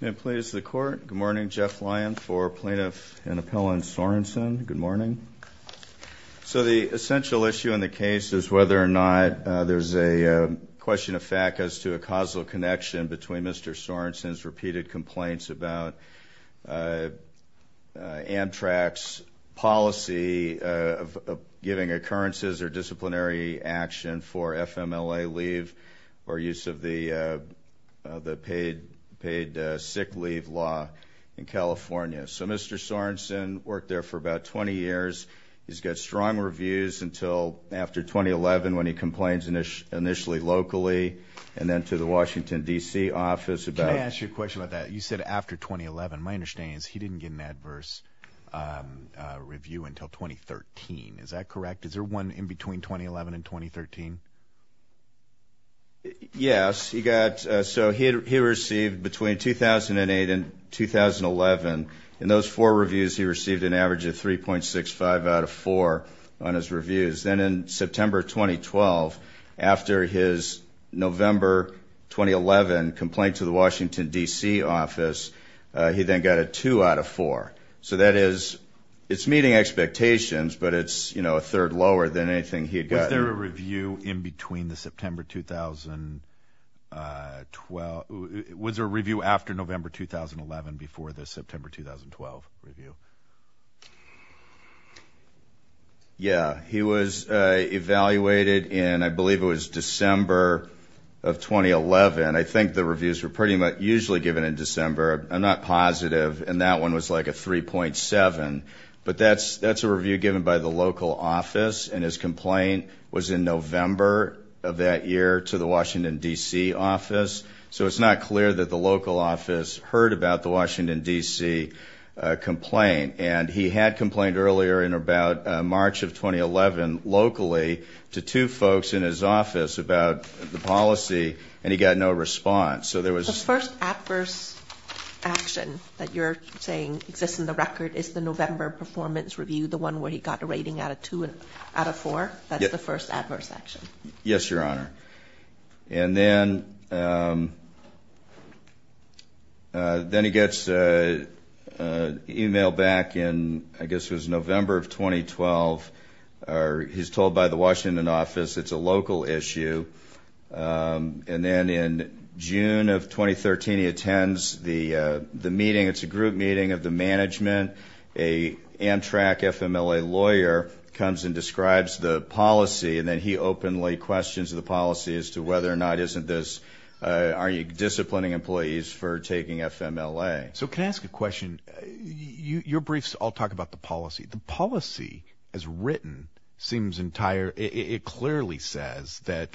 May it please the Court. Good morning. Jeff Lyon for Plaintiff and Appellant Sorensen. Good morning. So the essential issue in the case is whether or not there's a question of fact as to a causal connection between Mr. Sorensen's repeated complaints about Amtrak's policy of giving occurrences or the paid sick leave law in California. So Mr. Sorensen worked there for about 20 years. He's got strong reviews until after 2011 when he complains initially locally and then to the Washington DC office. Can I ask you a question about that? You said after 2011. My understanding is he didn't get an adverse review until 2013. Is that correct? Is there one in between 2011 and 2013? Yes. He got, so he received between 2008 and 2011. In those four reviews he received an average of 3.65 out of 4 on his reviews. Then in September 2012, after his November 2011 complaint to the Washington DC office, he then got a 2 out of 4. So that is, it's meeting expectations, but it's, you know, a third lower than anything he'd gotten. Was there a review in between the September 2012, was there a review after November 2011 before the September 2012 review? Yeah. He was evaluated in, I believe it was December of 2011. I think the reviews were pretty much usually given in That's a review given by the local office and his complaint was in November of that year to the Washington DC office. So it's not clear that the local office heard about the Washington DC complaint and he had complained earlier in about March of 2011 locally to two folks in his office about the policy and he got no response. So there was... The first adverse action that you're saying exists in the record is the November performance review, the one where he got a rating out of 2 out of 4? That's the first adverse action? Yes, Your Honor. And then he gets an email back in, I guess it was November of 2012. He's told by the Washington office it's a local issue and then in June of 2013 he attends the meeting. It's a group meeting of the management. An Amtrak FMLA lawyer comes and describes the policy and then he openly questions the policy as to whether or not isn't this... Are you disciplining employees for taking FMLA? So can I ask a question? Your briefs all talk about the policy. The policy as written seems entire... It clearly says that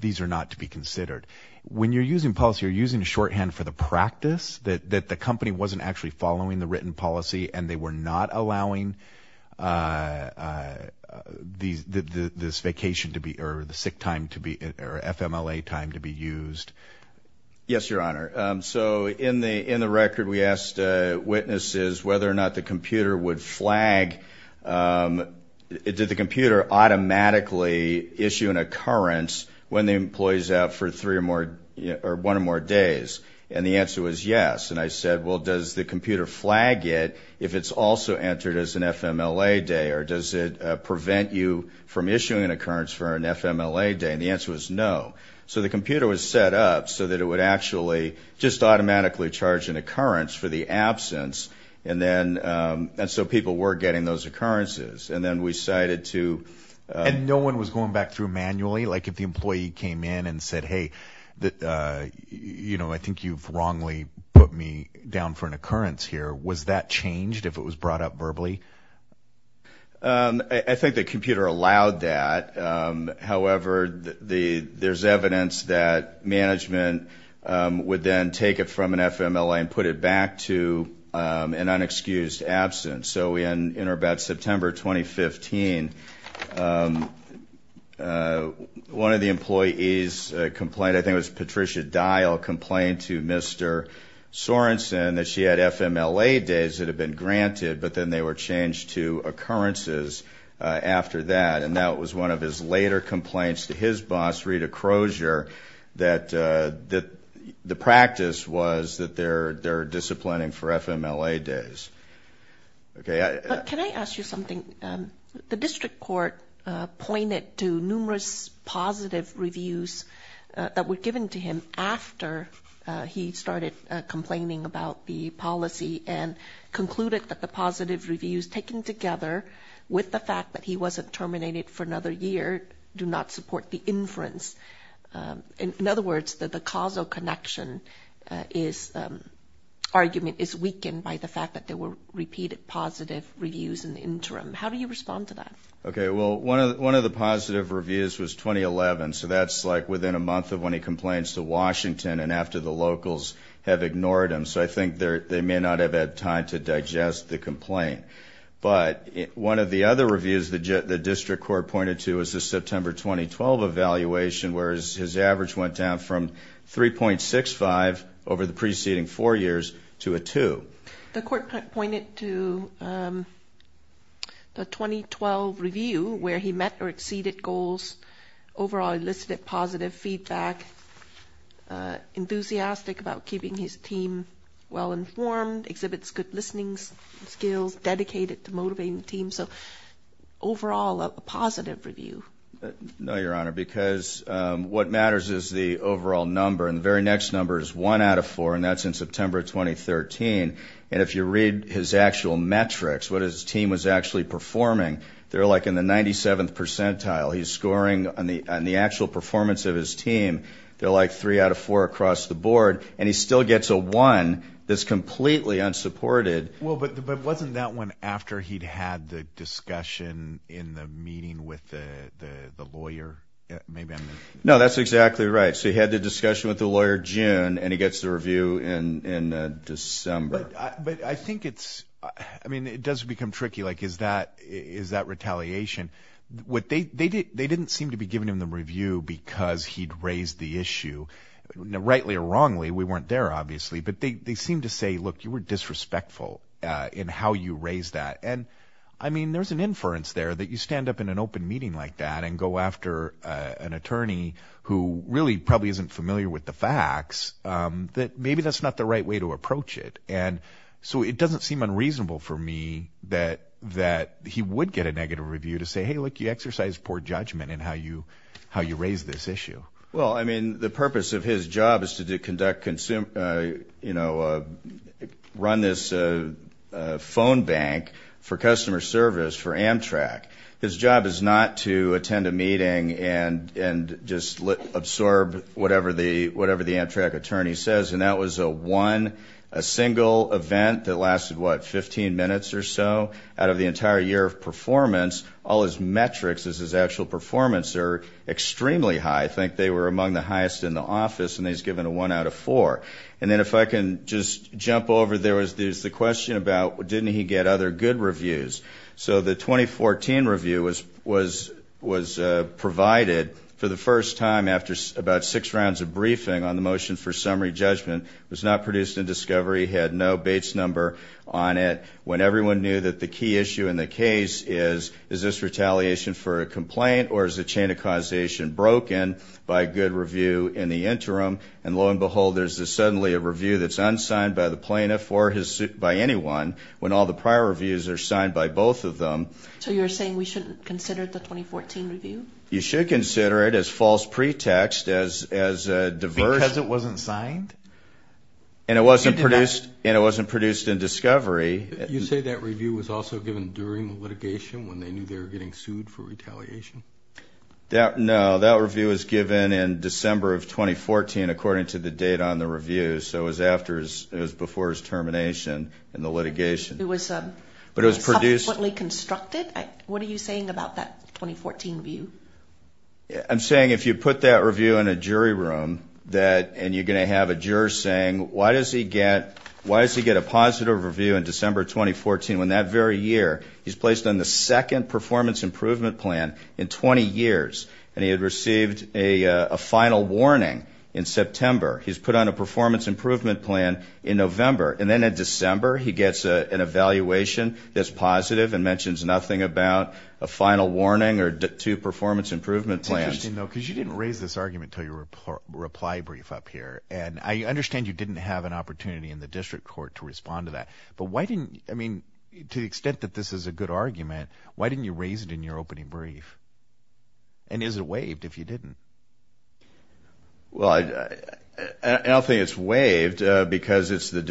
these are not to be considered. When you're using policy, you're using shorthand for the practice? That the company wasn't actually following the written policy and they were not allowing this vacation to be... Or the sick time to be... Or FMLA time to be used? Yes, Your Honor. So in the in the record we asked witnesses whether or not the computer would flag... Did the computer automatically issue an occurrence when the employees out for three or more... Or one or more days? And the answer was yes. And I said, well does the computer flag it if it's also entered as an FMLA day? Or does it prevent you from issuing an occurrence for an FMLA day? And the answer was no. So the computer was set up so that it would actually just automatically charge an occurrence for the absence. And then... And so people were getting those occurrences. And then we decided to... And no one was going back through manually? Like if the employee came in and said, hey, you know, I think you've wrongly put me down for an occurrence here. Was that changed if it was brought up verbally? I think the computer allowed that. However, there's evidence that management would then take it from an FMLA and put it back to an unexcused absence. So in or about September 2015, one of the employees complained. I think it was Patricia Dial complained to Mr. Sorensen that she had FMLA days that had been granted, but then they were changed to occurrences after that. And that was one of his later complaints to his boss, Rita Crozier, that the practice was that they're something... The district court pointed to numerous positive reviews that were given to him after he started complaining about the policy and concluded that the positive reviews taken together with the fact that he wasn't terminated for another year do not support the inference. In other words, that the causal connection is argument is weakened by the fact that there were How do you respond to that? Okay, well, one of the positive reviews was 2011, so that's like within a month of when he complains to Washington and after the locals have ignored him. So I think they may not have had time to digest the complaint. But one of the other reviews the district court pointed to is the September 2012 evaluation, where his average went down from 3.65 over the 2012 review, where he met or exceeded goals, overall elicited positive feedback, enthusiastic about keeping his team well-informed, exhibits good listening skills, dedicated to motivating the team. So overall a positive review. No, Your Honor, because what matters is the overall number, and the very next number is one out of four, and that's in September 2013. And if you read his actual metrics, what his team was actually performing, they're like in the 97th percentile. He's scoring on the actual performance of his team. They're like three out of four across the board, and he still gets a one that's completely unsupported. Well, but wasn't that one after he'd had the discussion in the meeting with the lawyer? No, that's exactly right. So he had the discussion with the lawyer June, and he gets the review in December. But I think it's, I mean it does become tricky, like is that retaliation? They didn't seem to be giving him the review because he'd raised the issue, rightly or wrongly. We weren't there obviously, but they seemed to say look, you were disrespectful in how you raised that. And I mean there's an inference there that you stand up in an open meeting like that, and go after an attorney who really probably isn't familiar with the facts, that maybe that's not the right way to approach it. And so it doesn't seem unreasonable for me that he would get a negative review to say, hey look, you exercise poor judgment in how you raise this issue. Well, I mean the purpose of his job is to conduct, you know, run this phone bank for customer service for Amtrak. His job is not to attend a meeting and just absorb whatever the Amtrak attorney says. And that was a one, a single event that lasted, what, 15 minutes or so out of the entire year of performance. All his metrics as his actual performance are extremely high. I think they were among the highest in the office, and he's given a one out of four. And then if I can just jump over, there was the question about didn't he get other good reviews. So the 2014 review was provided for the first time after about six rounds of briefing on the motion for summary judgment. It was not produced in discovery, had no Bates number on it, when everyone knew that the key issue in the case is, is this retaliation for a complaint, or is the chain of causation broken by a good review in the interim? And lo and behold, there's suddenly a review that's unsigned by the plaintiff or by anyone, when all the prior reviews are signed by both of them. So you're saying we shouldn't consider the 2014 review? You should consider it as false pretext, as, as a diversion. Because it wasn't signed? And it wasn't produced, and it wasn't produced in discovery. You say that review was also given during the litigation, when they knew they were getting sued for retaliation? That, no, that review was given in December of 2014, according to the date on the review. So it was after, it was before his subsequently constructed? What are you saying about that 2014 view? I'm saying if you put that review in a jury room, that, and you're going to have a juror saying, why does he get, why does he get a positive review in December 2014, when that very year, he's placed on the second performance improvement plan in 20 years, and he had received a final warning in September. He's put on a performance improvement plan in November, and then in December, he gets an evaluation that's positive, and mentions nothing about a final warning, or two performance improvement plans. It's interesting though, because you didn't raise this argument until your reply brief up here. And I understand you didn't have an opportunity in the district court to respond to that. But why didn't, I mean, to the extent that this is a good argument, why didn't you raise it in your opening brief? And is it waived if you didn't? Well, I don't think it's waived, because it's the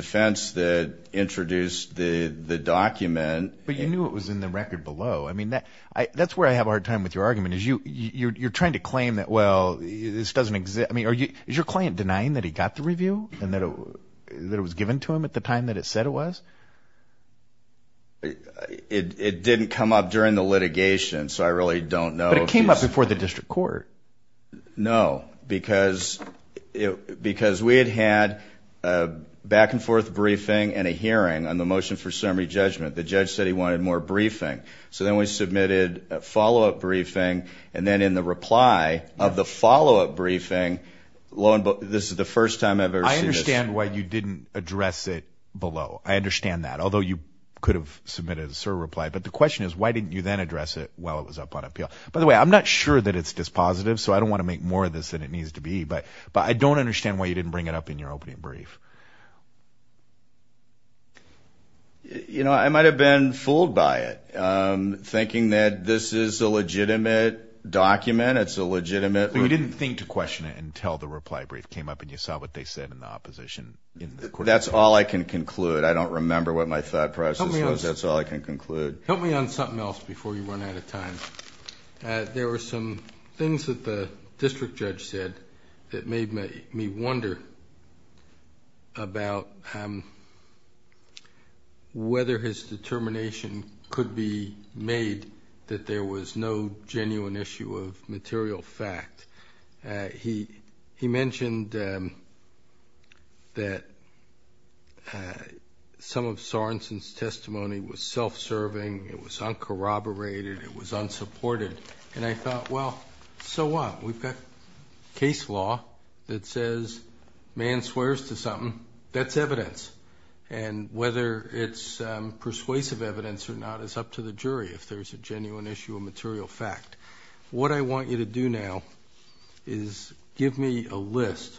document. But you knew it was in the record below. I mean, that, that's where I have a hard time with your argument. Is you, you're trying to claim that, well, this doesn't exist, I mean, are you, is your client denying that he got the review, and that it was given to him at the time that it said it was? It didn't come up during the litigation, so I really don't know. But it came up before the district court. No, because it, because we had had a back-and-forth briefing and a hearing on the motion for summary judgment. The judge said he wanted more briefing. So then we submitted a follow-up briefing, and then in the reply of the follow-up briefing, this is the first time I've ever seen this. I understand why you didn't address it below. I understand that. Although you could have submitted a server reply. But the question is, why didn't you then address it while it was up on appeal? By the way, I'm not sure that it's dispositive, so I don't want to make more of this than it needs to be. But, but I don't understand why you didn't bring it up in your opening brief. You know, I might have been fooled by it, thinking that this is a legitimate document. It's a legitimate... You didn't think to question it until the reply brief came up, and you saw what they said in the opposition. That's all I can conclude. I don't remember what my thought process was. That's all I can conclude. Help me on something else before you run out of time. There were some things that the district judge said that made me wonder about whether his determination could be made that there was no genuine issue of material fact. He mentioned that some of Sorenson's testimony was self-serving, it was uncorroborated, it was unsupported. And I thought, so what? We've got case law that says man swears to something, that's evidence. And whether it's persuasive evidence or not is up to the jury if there's a genuine issue of material fact. What I want you to do now is give me a list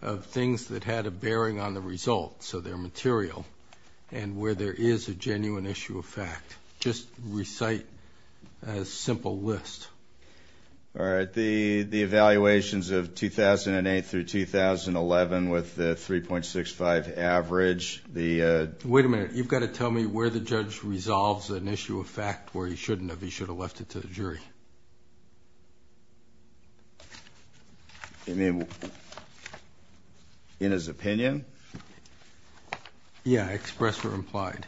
of things that had a bearing on the result, so they're material, and where there is a genuine issue of fact. Just recite a simple list. All right, the evaluations of 2008 through 2011 with the 3.65 average, the... Wait a minute, you've got to tell me where the judge resolves an issue of fact where he shouldn't have. He should have left it to the jury. In his opinion? Yeah, express or implied.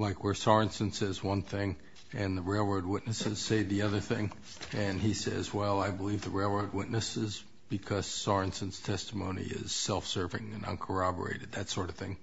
Like where Sorenson says one thing and the railroad witnesses say the other thing, and he says, well I believe the railroad witnesses because Sorenson's testimony is self-serving and uncorroborated, that sort of thing.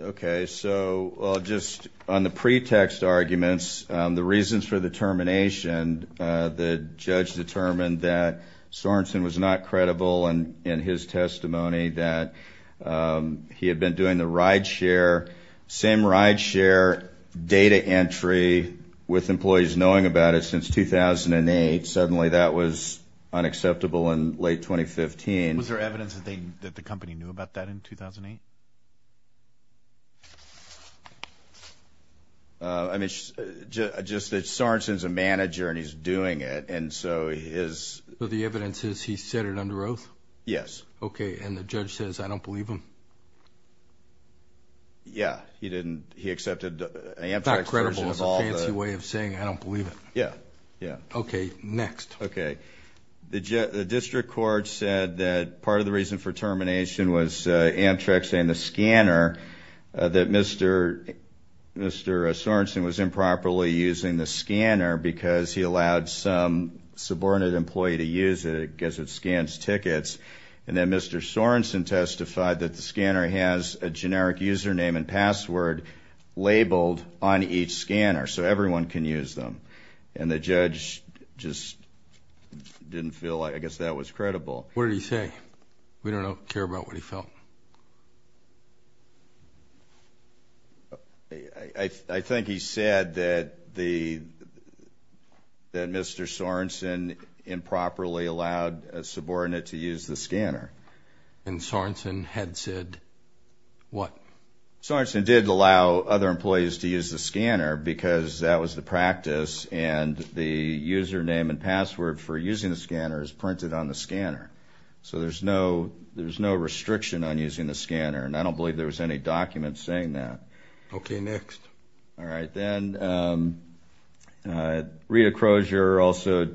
Okay, so just on the pretext arguments, the reasons for the termination, the judge determined that Sorenson was not credible and in his testimony that he had been doing the ride-share, same ride-share data entry with employees knowing about it since 2008. Suddenly that was unacceptable in late 2015. Was there evidence that the company knew about that in 2008? I mean, just that Sorenson's a manager and he's doing it, and so his... So the evidence is he said it under oath? Yes. Okay, and the judge says I don't believe him? Yeah, he didn't, he accepted... It's not credible, it's a fancy way of saying I don't believe it. Yeah, yeah. Okay, next. Okay, the district court said that part of the reason for termination was Amtrak saying the scanner, that Mr. Sorenson was improperly using the scanner because he allowed some subordinate employee to use it because it scans tickets, and then Mr. Sorenson testified that the scanner has a generic username and password labeled on each scanner so everyone can use them, and the judge just didn't feel like... I guess that was credible. What did he say? We don't care about what he felt. I think he said that Mr. Sorenson improperly allowed a subordinate to use the scanner. And Sorenson had said what? Sorenson did allow other employees to use the scanner because that was the practice and the username and password for using the scanner is printed on the scanner, so there's no restriction on using the scanner, and I don't believe there was any document saying that. Okay, next. All right, then Rita Crozier also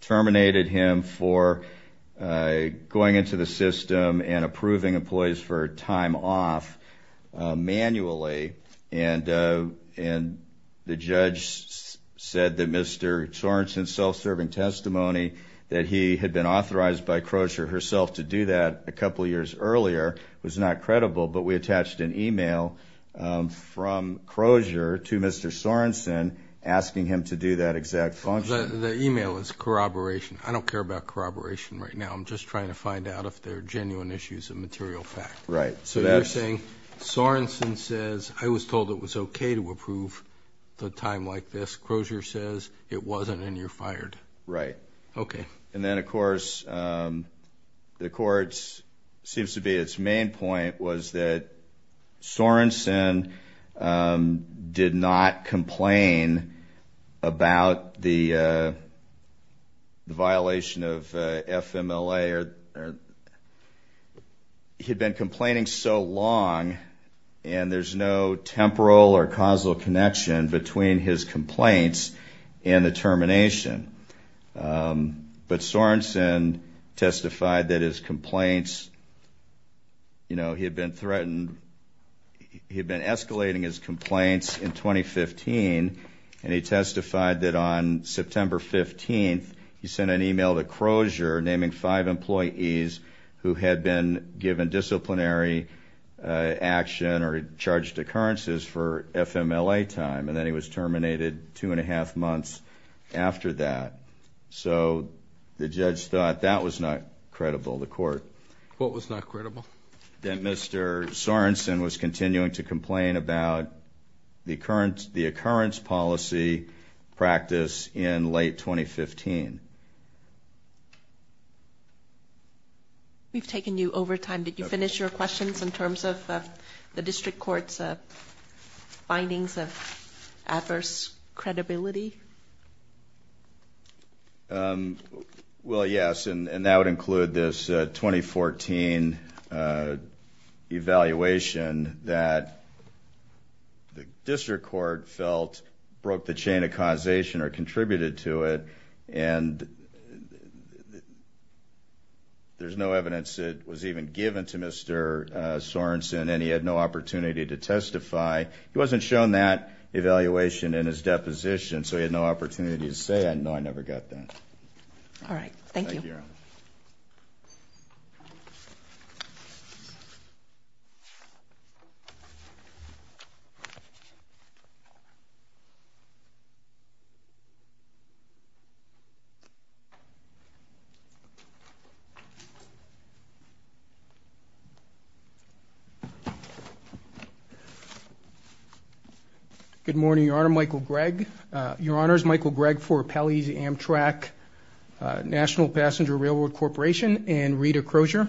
terminated him for going into the system and approving employees for time off manually, and the judge said that Mr. Sorenson's self-serving testimony that he had been authorized by Crozier herself to do that a couple years earlier was not credible, but we attached an email from Crozier to Mr. Sorenson asking him to do that exact function. The email is corroboration. I don't care about corroboration right now. I'm just trying to find out if they're genuine issues of material fact. Right. So you're saying Sorenson says I was told it was okay to approve the time like this. Crozier says it wasn't and you're fired. Right. Okay. And then of course the court's seems to be its main point was that Sorenson did not complain about the violation of FMLA. He had been complaining so long and there's no temporal or causal connection between his complaints and the termination, but Sorenson testified that his complaints, you know, he had been threatened, he had been escalating his complaints in 2015 and he testified that on September 15th he sent an email to Crozier naming five employees who had been given disciplinary action or charged occurrences for FMLA time and then he was terminated two and a half months after that. So the court was not credible. What was not credible? That Mr. Sorenson was continuing to complain about the occurrence policy practice in late 2015. We've taken you over time. Did you finish your questions in terms of the this 2014 evaluation that the district court felt broke the chain of causation or contributed to it and there's no evidence that was even given to Mr. Sorenson and he had no opportunity to testify. He wasn't shown that evaluation in his deposition so he had no opportunity to say I know I never got that. All right, thank you. Good morning, Your Honor. Michael Gregg. Your Honor's Michael Gregg for Appellees Amtrak National Passenger Railroad Corporation and Rita Crozier.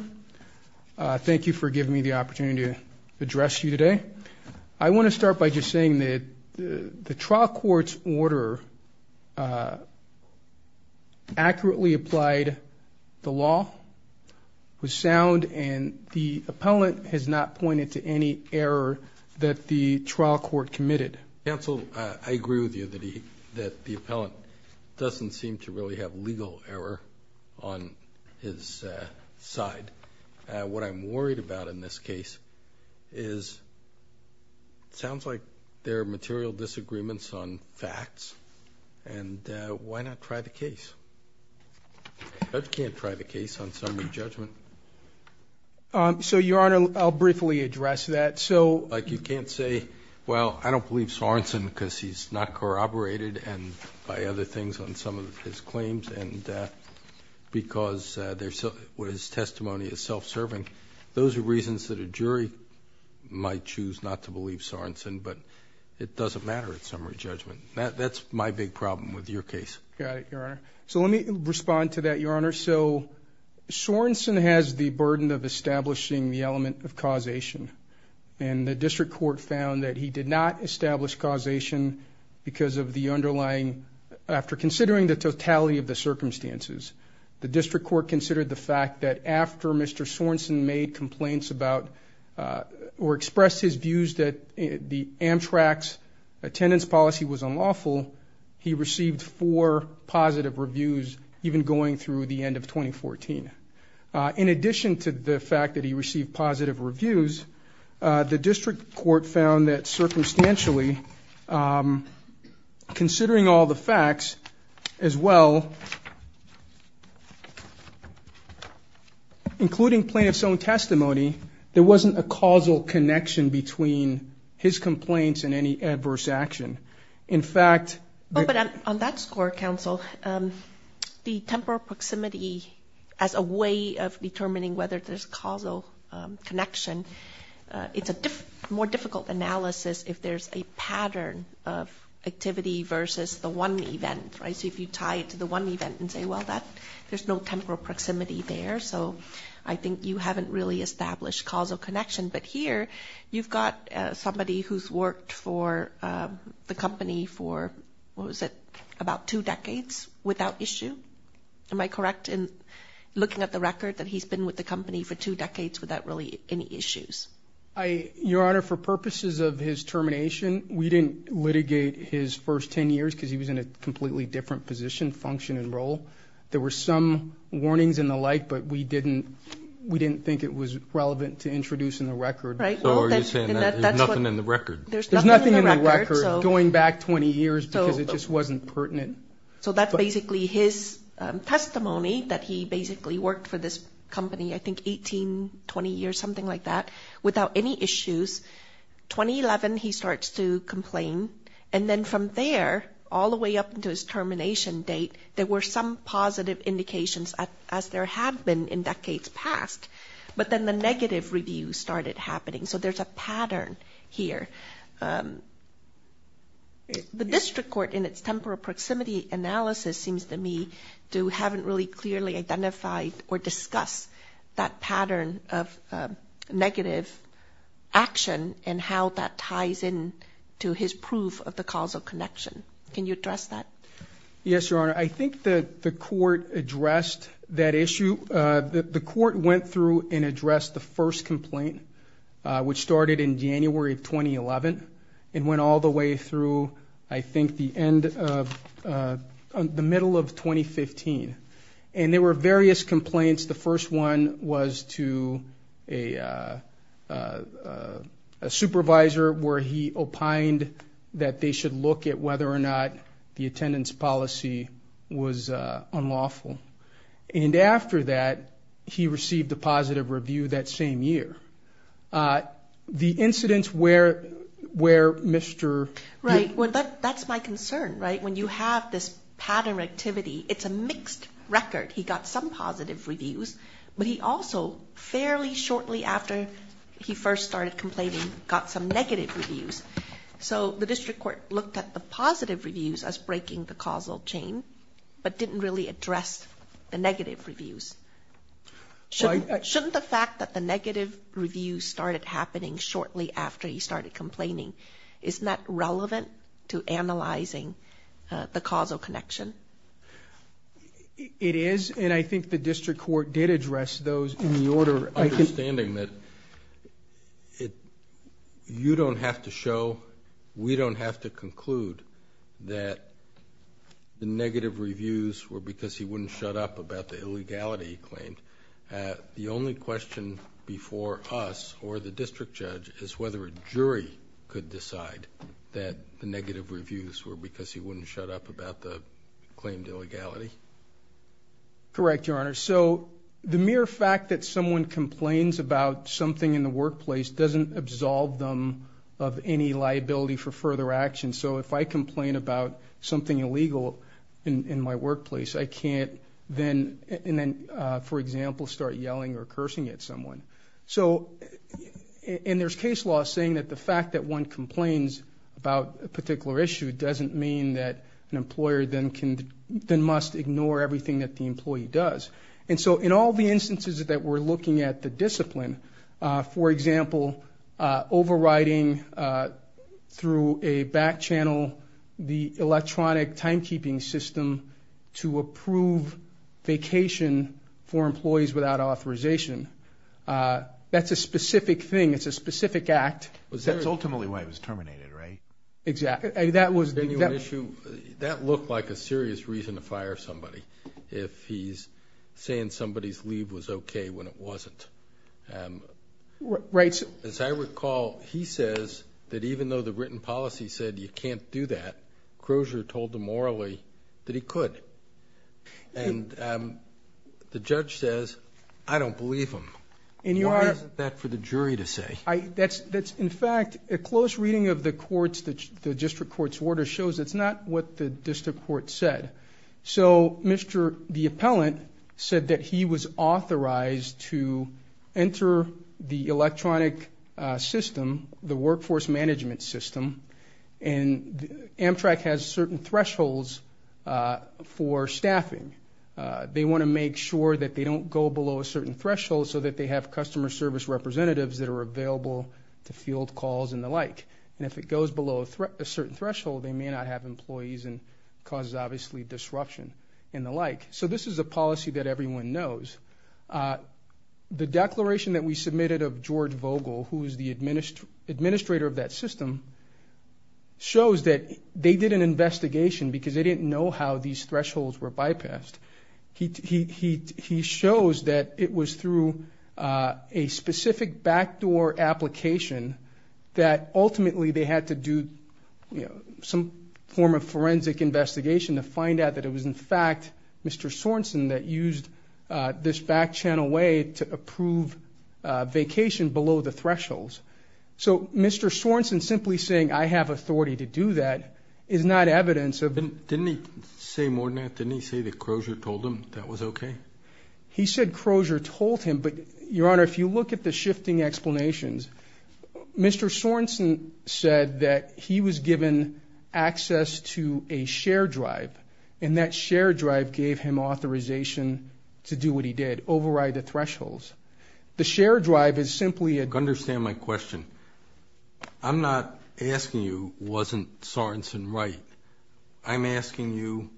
Thank you for giving me the opportunity to address you today. I want to start by just saying that the trial court's order accurately applied the law, was sound and the appellant has not pointed to any error that the trial court committed. Counsel, I agree with you that he that the appellant doesn't seem to really have legal error on his side. What I'm worried about in this case is it sounds like there are material disagreements on facts and why not try the case? The judge can't try the case on summary judgment. So, Your Honor, I'll briefly address that. So, like you can't say, well, I don't believe Sorenson because he's not corroborated and by other things on some of his claims and because what his testimony is self-serving. Those are reasons that a jury might choose not to believe Sorenson but it doesn't matter at summary judgment. That's my big problem with your case. Got it, Your Honor. So, let me respond to that, Your Honor. So, Sorenson has the burden of establishing the element of causation and the district court found that he did not establish causation because of the underlying, after considering the totality of the circumstances, the district court considered the fact that after Mr. Sorenson made complaints about or expressed his views that the Amtrak's attendance policy was unlawful, he received four positive reviews even going through the end of 2014. In fact, the district court found that circumstantially, considering all the facts as well, including plaintiff's own testimony, there wasn't a causal connection between his complaints and any adverse action. In fact, but on that score, counsel, the temporal proximity as a way of determining whether there's a causal connection, it's a more difficult analysis if there's a pattern of activity versus the one event, right? So, if you tie it to the one event and say, well, that there's no temporal proximity there. So, I think you haven't really established causal connection. But here, you've got somebody who's worked for the company for, what was it, about two decades without issue. Am I correct in that he's been with the company for two decades without really any issues? Your Honor, for purposes of his termination, we didn't litigate his first ten years because he was in a completely different position, function, and role. There were some warnings and the like, but we didn't think it was relevant to introducing the record. So, are you saying that there's nothing in the record? There's nothing in the record going back 20 years because it just wasn't pertinent. So, that's basically his testimony that he basically worked for this company, I think, 18, 20 years, something like that, without any issues. 2011, he starts to complain. And then from there, all the way up into his termination date, there were some positive indications as there had been in decades past. But then the negative review started happening. So, there's a pattern here. The district court, in its temporal proximity analysis, seems to me to haven't really clearly identified or discussed that pattern of negative action and how that ties in to his proof of the causal connection. Can you address that? Yes, Your Honor. I think that the court addressed that issue. The court went through and addressed the first complaint, which started in January of 2011, and went all the way through, I think, the middle of 2015. And there were various complaints. The first one was to a supervisor where he opined that they should look at whether or not the attendance policy was unlawful. And after that, he received a That's my concern, right? When you have this pattern of activity, it's a mixed record. He got some positive reviews, but he also, fairly shortly after he first started complaining, got some negative reviews. So, the district court looked at the positive reviews as breaking the causal chain, but didn't really address the negative reviews. Shouldn't the fact that the negative reviews started happening shortly after he started complaining, isn't that relevant to analyzing the causal connection? It is, and I think the district court did address those in the order. Understanding that you don't have to show, we don't have to conclude, that the negative reviews were because he wouldn't shut up about the illegality he claimed. The only question before us, or the district judge, is whether a jury could decide that the negative reviews were because he wouldn't shut up about the claimed illegality. Correct, Your Honor. So, the mere fact that someone complains about something in the workplace doesn't absolve them of any liability for further action. So, if I complain about something illegal in my workplace, I can't then, for example, start yelling or cursing at someone. So, and there's case law saying that the fact that one complains about a particular issue doesn't mean that an employer then must ignore everything that the employee does. And so, in all the instances that we're looking at the discipline, for example, overriding through a back channel the electronic timekeeping system to approve vacation for employees without authorization. That's a specific thing. It's a specific act. That's ultimately why it was terminated, right? Exactly. That was the issue. That looked like a serious reason to fire somebody, if he's saying somebody's leave was okay when it wasn't. Right. As I recall, he says that even though the written policy said you can't do that, Crozier told them morally that he could. And the judge says, I don't believe him. Why isn't that for the jury to say? In fact, a close reading of the district court's order shows it's not what the district court said. So, the appellant said that he was authorized to enter the workforce management system and Amtrak has certain thresholds for staffing. They want to make sure that they don't go below a certain threshold so that they have customer service representatives that are available to field calls and the like. And if it goes below a certain threshold, they may not have employees and causes, obviously, disruption and the like. So, this is a policy that everyone knows. The declaration that we submitted of George Vogel, who is the administrator of that system, shows that they did an investigation because they didn't know how these thresholds were bypassed. He shows that it was through a specific backdoor application that ultimately they had to do some form of forensic investigation to find out that it was, in fact, Mr. Sorensen that used this backchannel way to approve vacation below the thresholds. So, Mr. Sorensen simply saying, I have authority to do that, is not evidence of... Didn't he say more than that? Didn't he say that Crozier told him that was okay? He said Crozier told him, but, Your Honor, if you look at the shifting explanations, Mr. Sorensen said that he was given access to a share drive and that share drive gave him authorization to do what he did, override the thresholds. The share drive is simply a... Understand my question. I'm not asking you, wasn't Sorensen right? I'm asking you,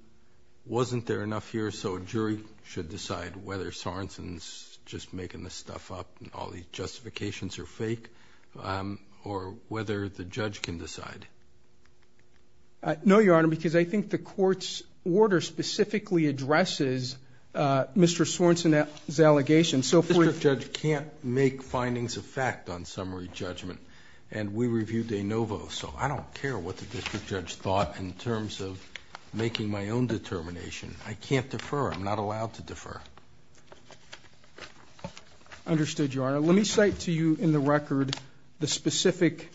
wasn't there enough here so a jury should decide whether Sorensen's just making this stuff up and all these justifications are fake, or whether the judge can decide? No, Your Honor, because I think the court's order specifically addresses Mr. Sorensen's allegation, so... The district judge can't make findings of fact on summary judgment, and we reviewed de novo, so I don't care what the district judge thought in terms of making my own determination. I can't defer. I'm not allowed to defer. Understood, Your Honor. Let me cite to you in the record the specific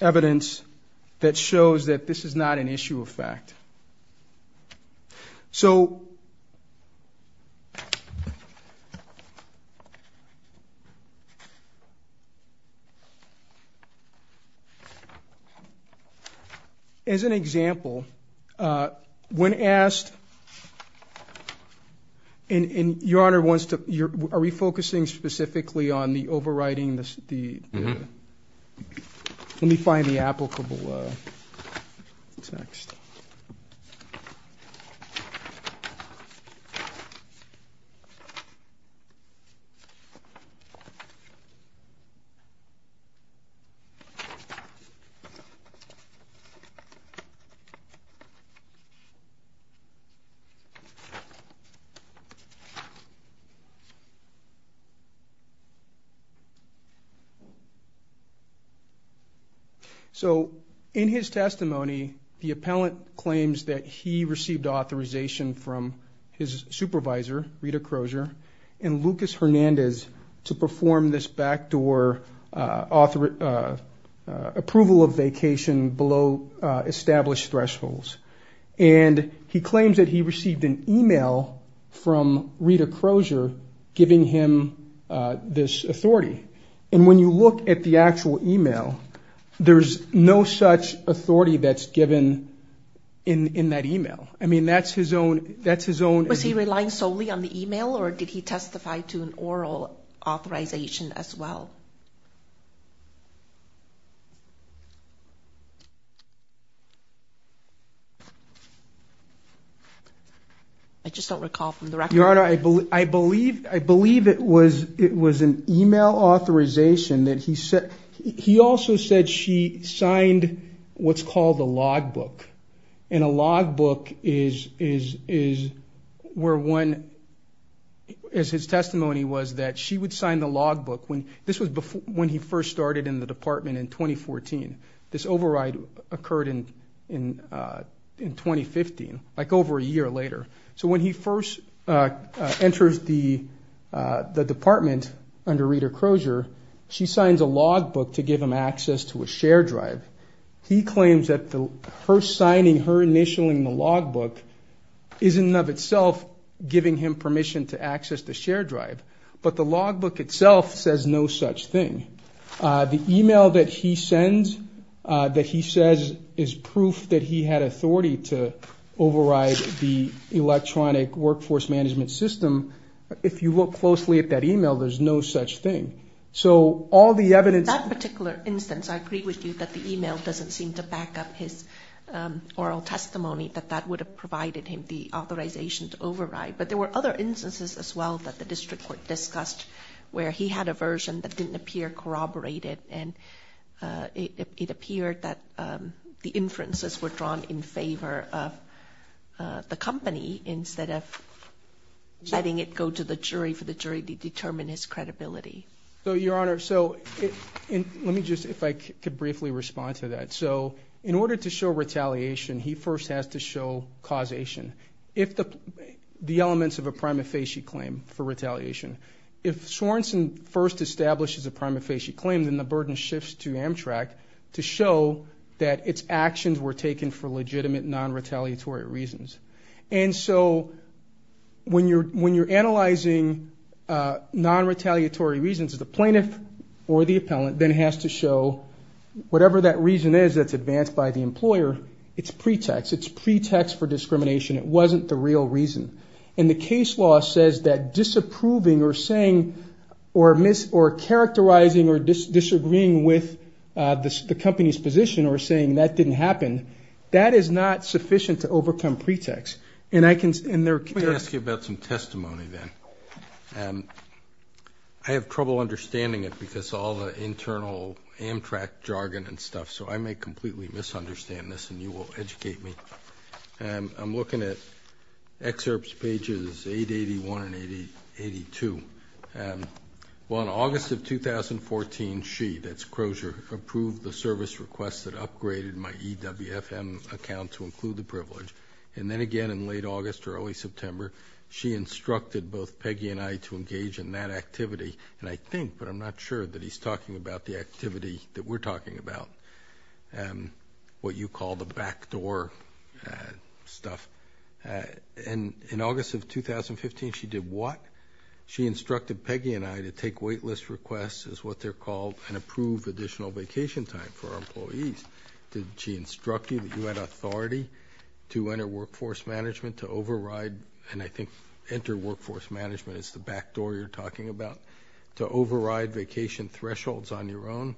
evidence that shows that this is not an issue of fact. So, as an example, when asked, and Your Honor wants to... Are we focusing specifically on the overriding... Let me find the applicable text. So, in his testimony, the appellant claims that he received authorization from his supervisor, Rita Crozier, and Lucas Hernandez, to perform this backdoor approval of vacation below established thresholds, and he claims that he received an email from Rita Crozier giving him this authority, and when you look at the actual email, there's no such authority that's given in that email. I mean, that's his own... Was he relying solely on the email, or did he testify to an oral authorization as well? I just don't recall from the record. Your Honor, I believe it was an email authorization that he said... He also said she signed what's called a logbook, and a logbook is where one, as his testimony was, that she would sign the logbook when... This was when he first started in the department in 2014. This override occurred in 2015, like over a year later. So, when he first enters the department under Rita Crozier, she signs a logbook to give him access to a share drive. He claims that her signing, her initialing the logbook, is in and of itself giving him permission to access the share drive, but the logbook itself says no such thing. The email that he sends, that he says is proof that he had management system, if you look closely at that email, there's no such thing. So, all the evidence... That particular instance, I agree with you that the email doesn't seem to back up his oral testimony, that that would have provided him the authorization to override, but there were other instances as well that the district court discussed, where he had a version that didn't appear corroborated, and it appeared that the inferences were drawn in favor of the letting it go to the jury, for the jury to determine his credibility. So, Your Honor, so, let me just, if I could briefly respond to that. So, in order to show retaliation, he first has to show causation. If the elements of a prima facie claim for retaliation, if Sorenson first establishes a prima facie claim, then the burden shifts to Amtrak to show that its actions were legitimate, non-retaliatory reasons. And so, when you're analyzing non-retaliatory reasons, the plaintiff or the appellant then has to show whatever that reason is that's advanced by the employer, it's pretext. It's pretext for discrimination. It wasn't the real reason. And the case law says that disapproving or saying, or characterizing or disagreeing with the company's position, or saying that didn't happen, that is not sufficient to overcome pretext. And I can, and there... Let me ask you about some testimony then. I have trouble understanding it because all the internal Amtrak jargon and stuff, so I may completely misunderstand this and you will educate me. I'm looking at excerpts pages 881 and 882. Well, in August of 2014, she, that's Crozier, approved the service requests that upgraded my EWFM account to include the privilege. And then again in late August or early September, she instructed both Peggy and I to engage in that activity. And I think, but I'm not sure that he's talking about the activity that we're talking about, what you call the backdoor stuff. And in August of 2015, she did what? She instructed Peggy and I to take waitlist requests, is what they're called, and approve additional vacation time for our employees. Did she instruct you that you had authority to enter workforce management, to override, and I think enter workforce management is the backdoor you're talking about, to override vacation thresholds on your own?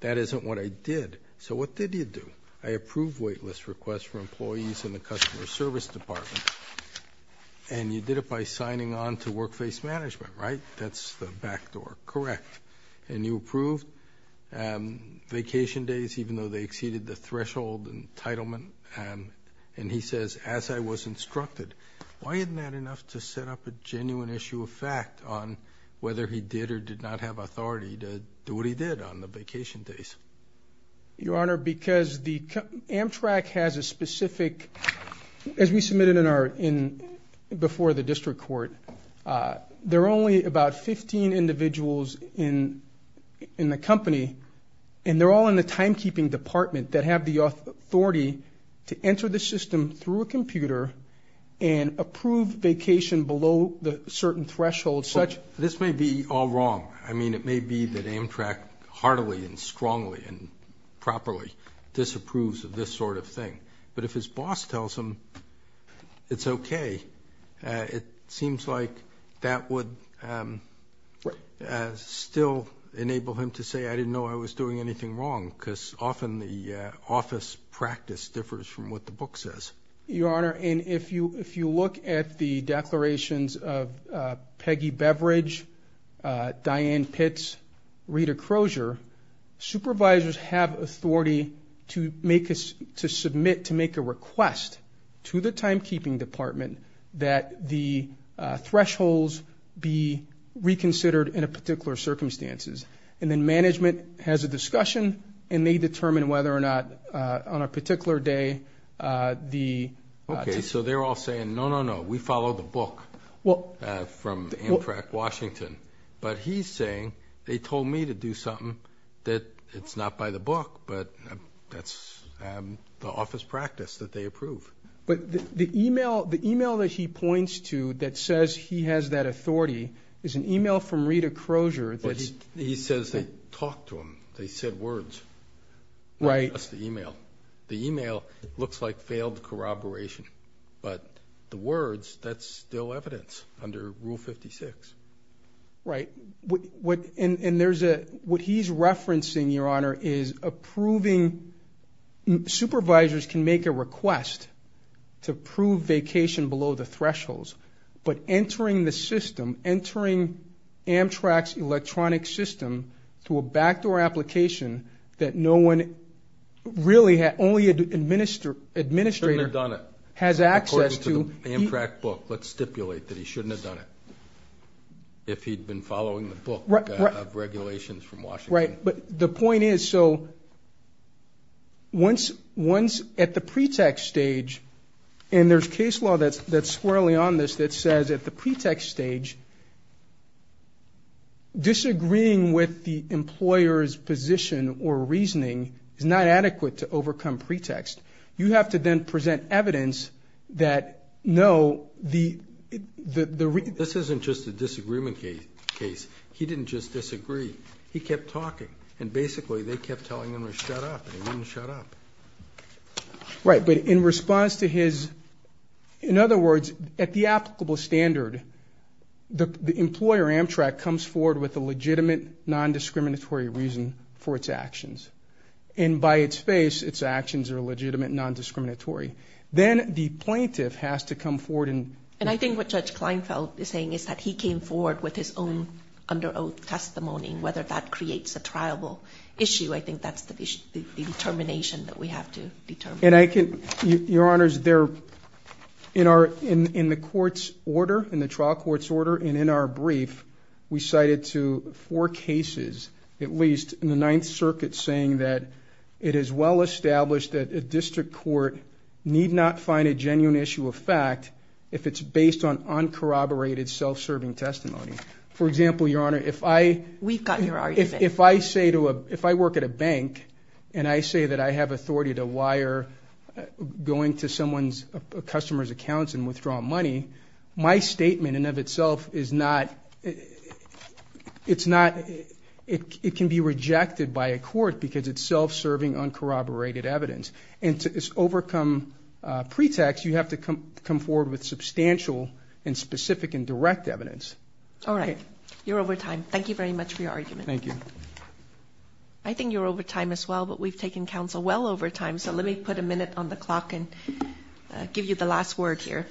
That isn't what I did. So what did you do? I approved waitlist requests for employees in the customer service department. And you did it by signing on to workplace management, right? That's the backdoor. Correct. And you approved vacation days, even though they exceeded the threshold entitlement. And he says, as I was instructed. Why isn't that enough to set up a genuine issue of fact on whether he did or did not have authority to do what he did on the vacation days? Your Honor, because the Amtrak has a specific, as we submitted in before the district court, there are only about 15 individuals in the company, and they're all in the timekeeping department that have the authority to enter the system through a computer and approve vacation below the certain threshold. This may be all wrong. I mean, it may be that Amtrak heartily and strongly and properly disapproves of this sort of thing. But if his boss tells him it's okay, it seems like that would still enable him to say, I didn't know I was doing anything wrong, because often the office practice differs from what the book says. Your Honor, and if you look at the declarations of Peggy Beverage, Diane Pitts, Rita Crozier, supervisors have authority to make us to the timekeeping department that the thresholds be reconsidered in a particular circumstances. And then management has a discussion, and they determine whether or not on a particular day the... Okay, so they're all saying, no, no, no, we follow the book from Amtrak Washington. But he's saying they told me to do something that it's not by the book, but that's the office practice that they approve. But the email that he points to that says he has that authority is an email from Rita Crozier. He says they talked to him, they said words. Right. That's the email. The email looks like failed corroboration, but the words, that's still evidence under Rule 56. Right. And what he's referencing, Your Honor, is approving... Supervisors can make a request to prove vacation below the thresholds, but entering the system, entering Amtrak's electronic system to a backdoor application that no one really had... Only an administrator... Shouldn't have done it. Has access to... According to the Amtrak book, let's stipulate that he shouldn't have done it, if he'd been following the book of regulations from Amtrak. But the point is, so once at the pretext stage, and there's case law that's that's swirling on this that says at the pretext stage, disagreeing with the employer's position or reasoning is not adequate to overcome pretext. You have to then present evidence that, no, the... This isn't just a and basically they kept telling him to shut up, and he wouldn't shut up. Right, but in response to his... In other words, at the applicable standard, the employer Amtrak comes forward with a legitimate non-discriminatory reason for its actions. And by its face, its actions are legitimate non-discriminatory. Then the plaintiff has to come forward and... And I think what Judge Kleinfeld is saying is that he came forward with his own under oath testimony. Whether that creates a triable issue, I think that's the determination that we have to determine. And I can... Your Honor's there... In our... In the court's order, in the trial court's order, and in our brief, we cited to four cases, at least, in the Ninth Circuit saying that it is well established that a district court need not find a genuine issue of fact if it's based on uncorroborated self-serving testimony. For example, Your Honor, if I... We've got your argument. If I say to a... If I work at a bank and I say that I have authority to wire going to someone's customer's accounts and withdraw money, my statement in and of itself is not... It's not... It can be rejected by a court because it's self-serving uncorroborated evidence. And to overcome pretext, you have to come forward with substantial and specific and direct evidence. All right. You're over time. Thank you very much for your argument. Thank you. I think you're over time as well, but we've taken counsel well over time, so let me put a minute on the clock and give you the last word here.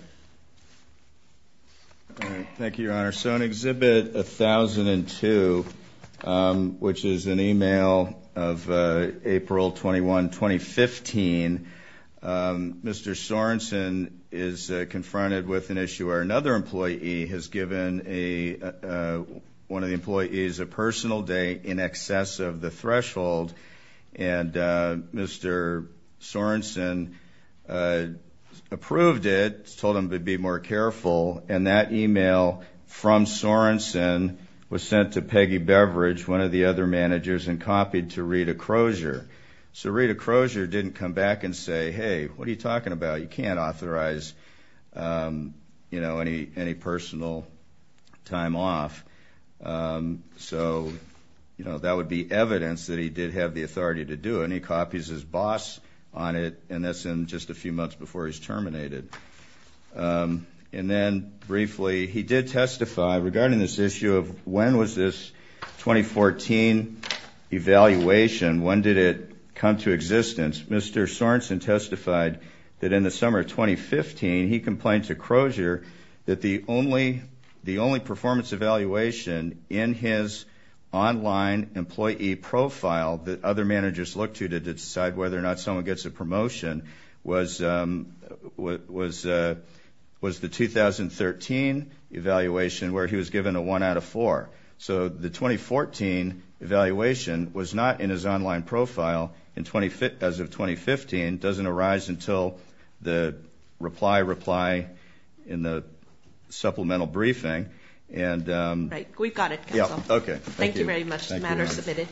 Thank you, Your Honor. So in Exhibit 1002, which is an email of April 21, 2015, Mr. Sorensen is confronted with an issue where another employee has given a... One of the employees a personal date in excess of the threshold, and Mr. Sorensen approved it, told him to be more careful, and that email from Sorensen was sent to Peggy Beveridge, one of the other managers, and copied to Rita Crozier. So you can say, hey, what are you talking about? You can't authorize, you know, any personal time off. So, you know, that would be evidence that he did have the authority to do it, and he copies his boss on it, and that's in just a few months before he's terminated. And then briefly, he did testify regarding this issue of when was this 2014 evaluation, when did it come to existence. Mr. Sorensen testified that in the summer of 2015, he complained to Crozier that the only performance evaluation in his online employee profile that other managers look to to decide whether or not someone gets a promotion was the 2013 evaluation, where he was given a 1 out of 4. So the 2014 evaluation was not in his online profile as of 2015, doesn't arise until the reply reply in the supplemental briefing. And we've got it. Yeah, okay. Thank you very much. The matter is submitted.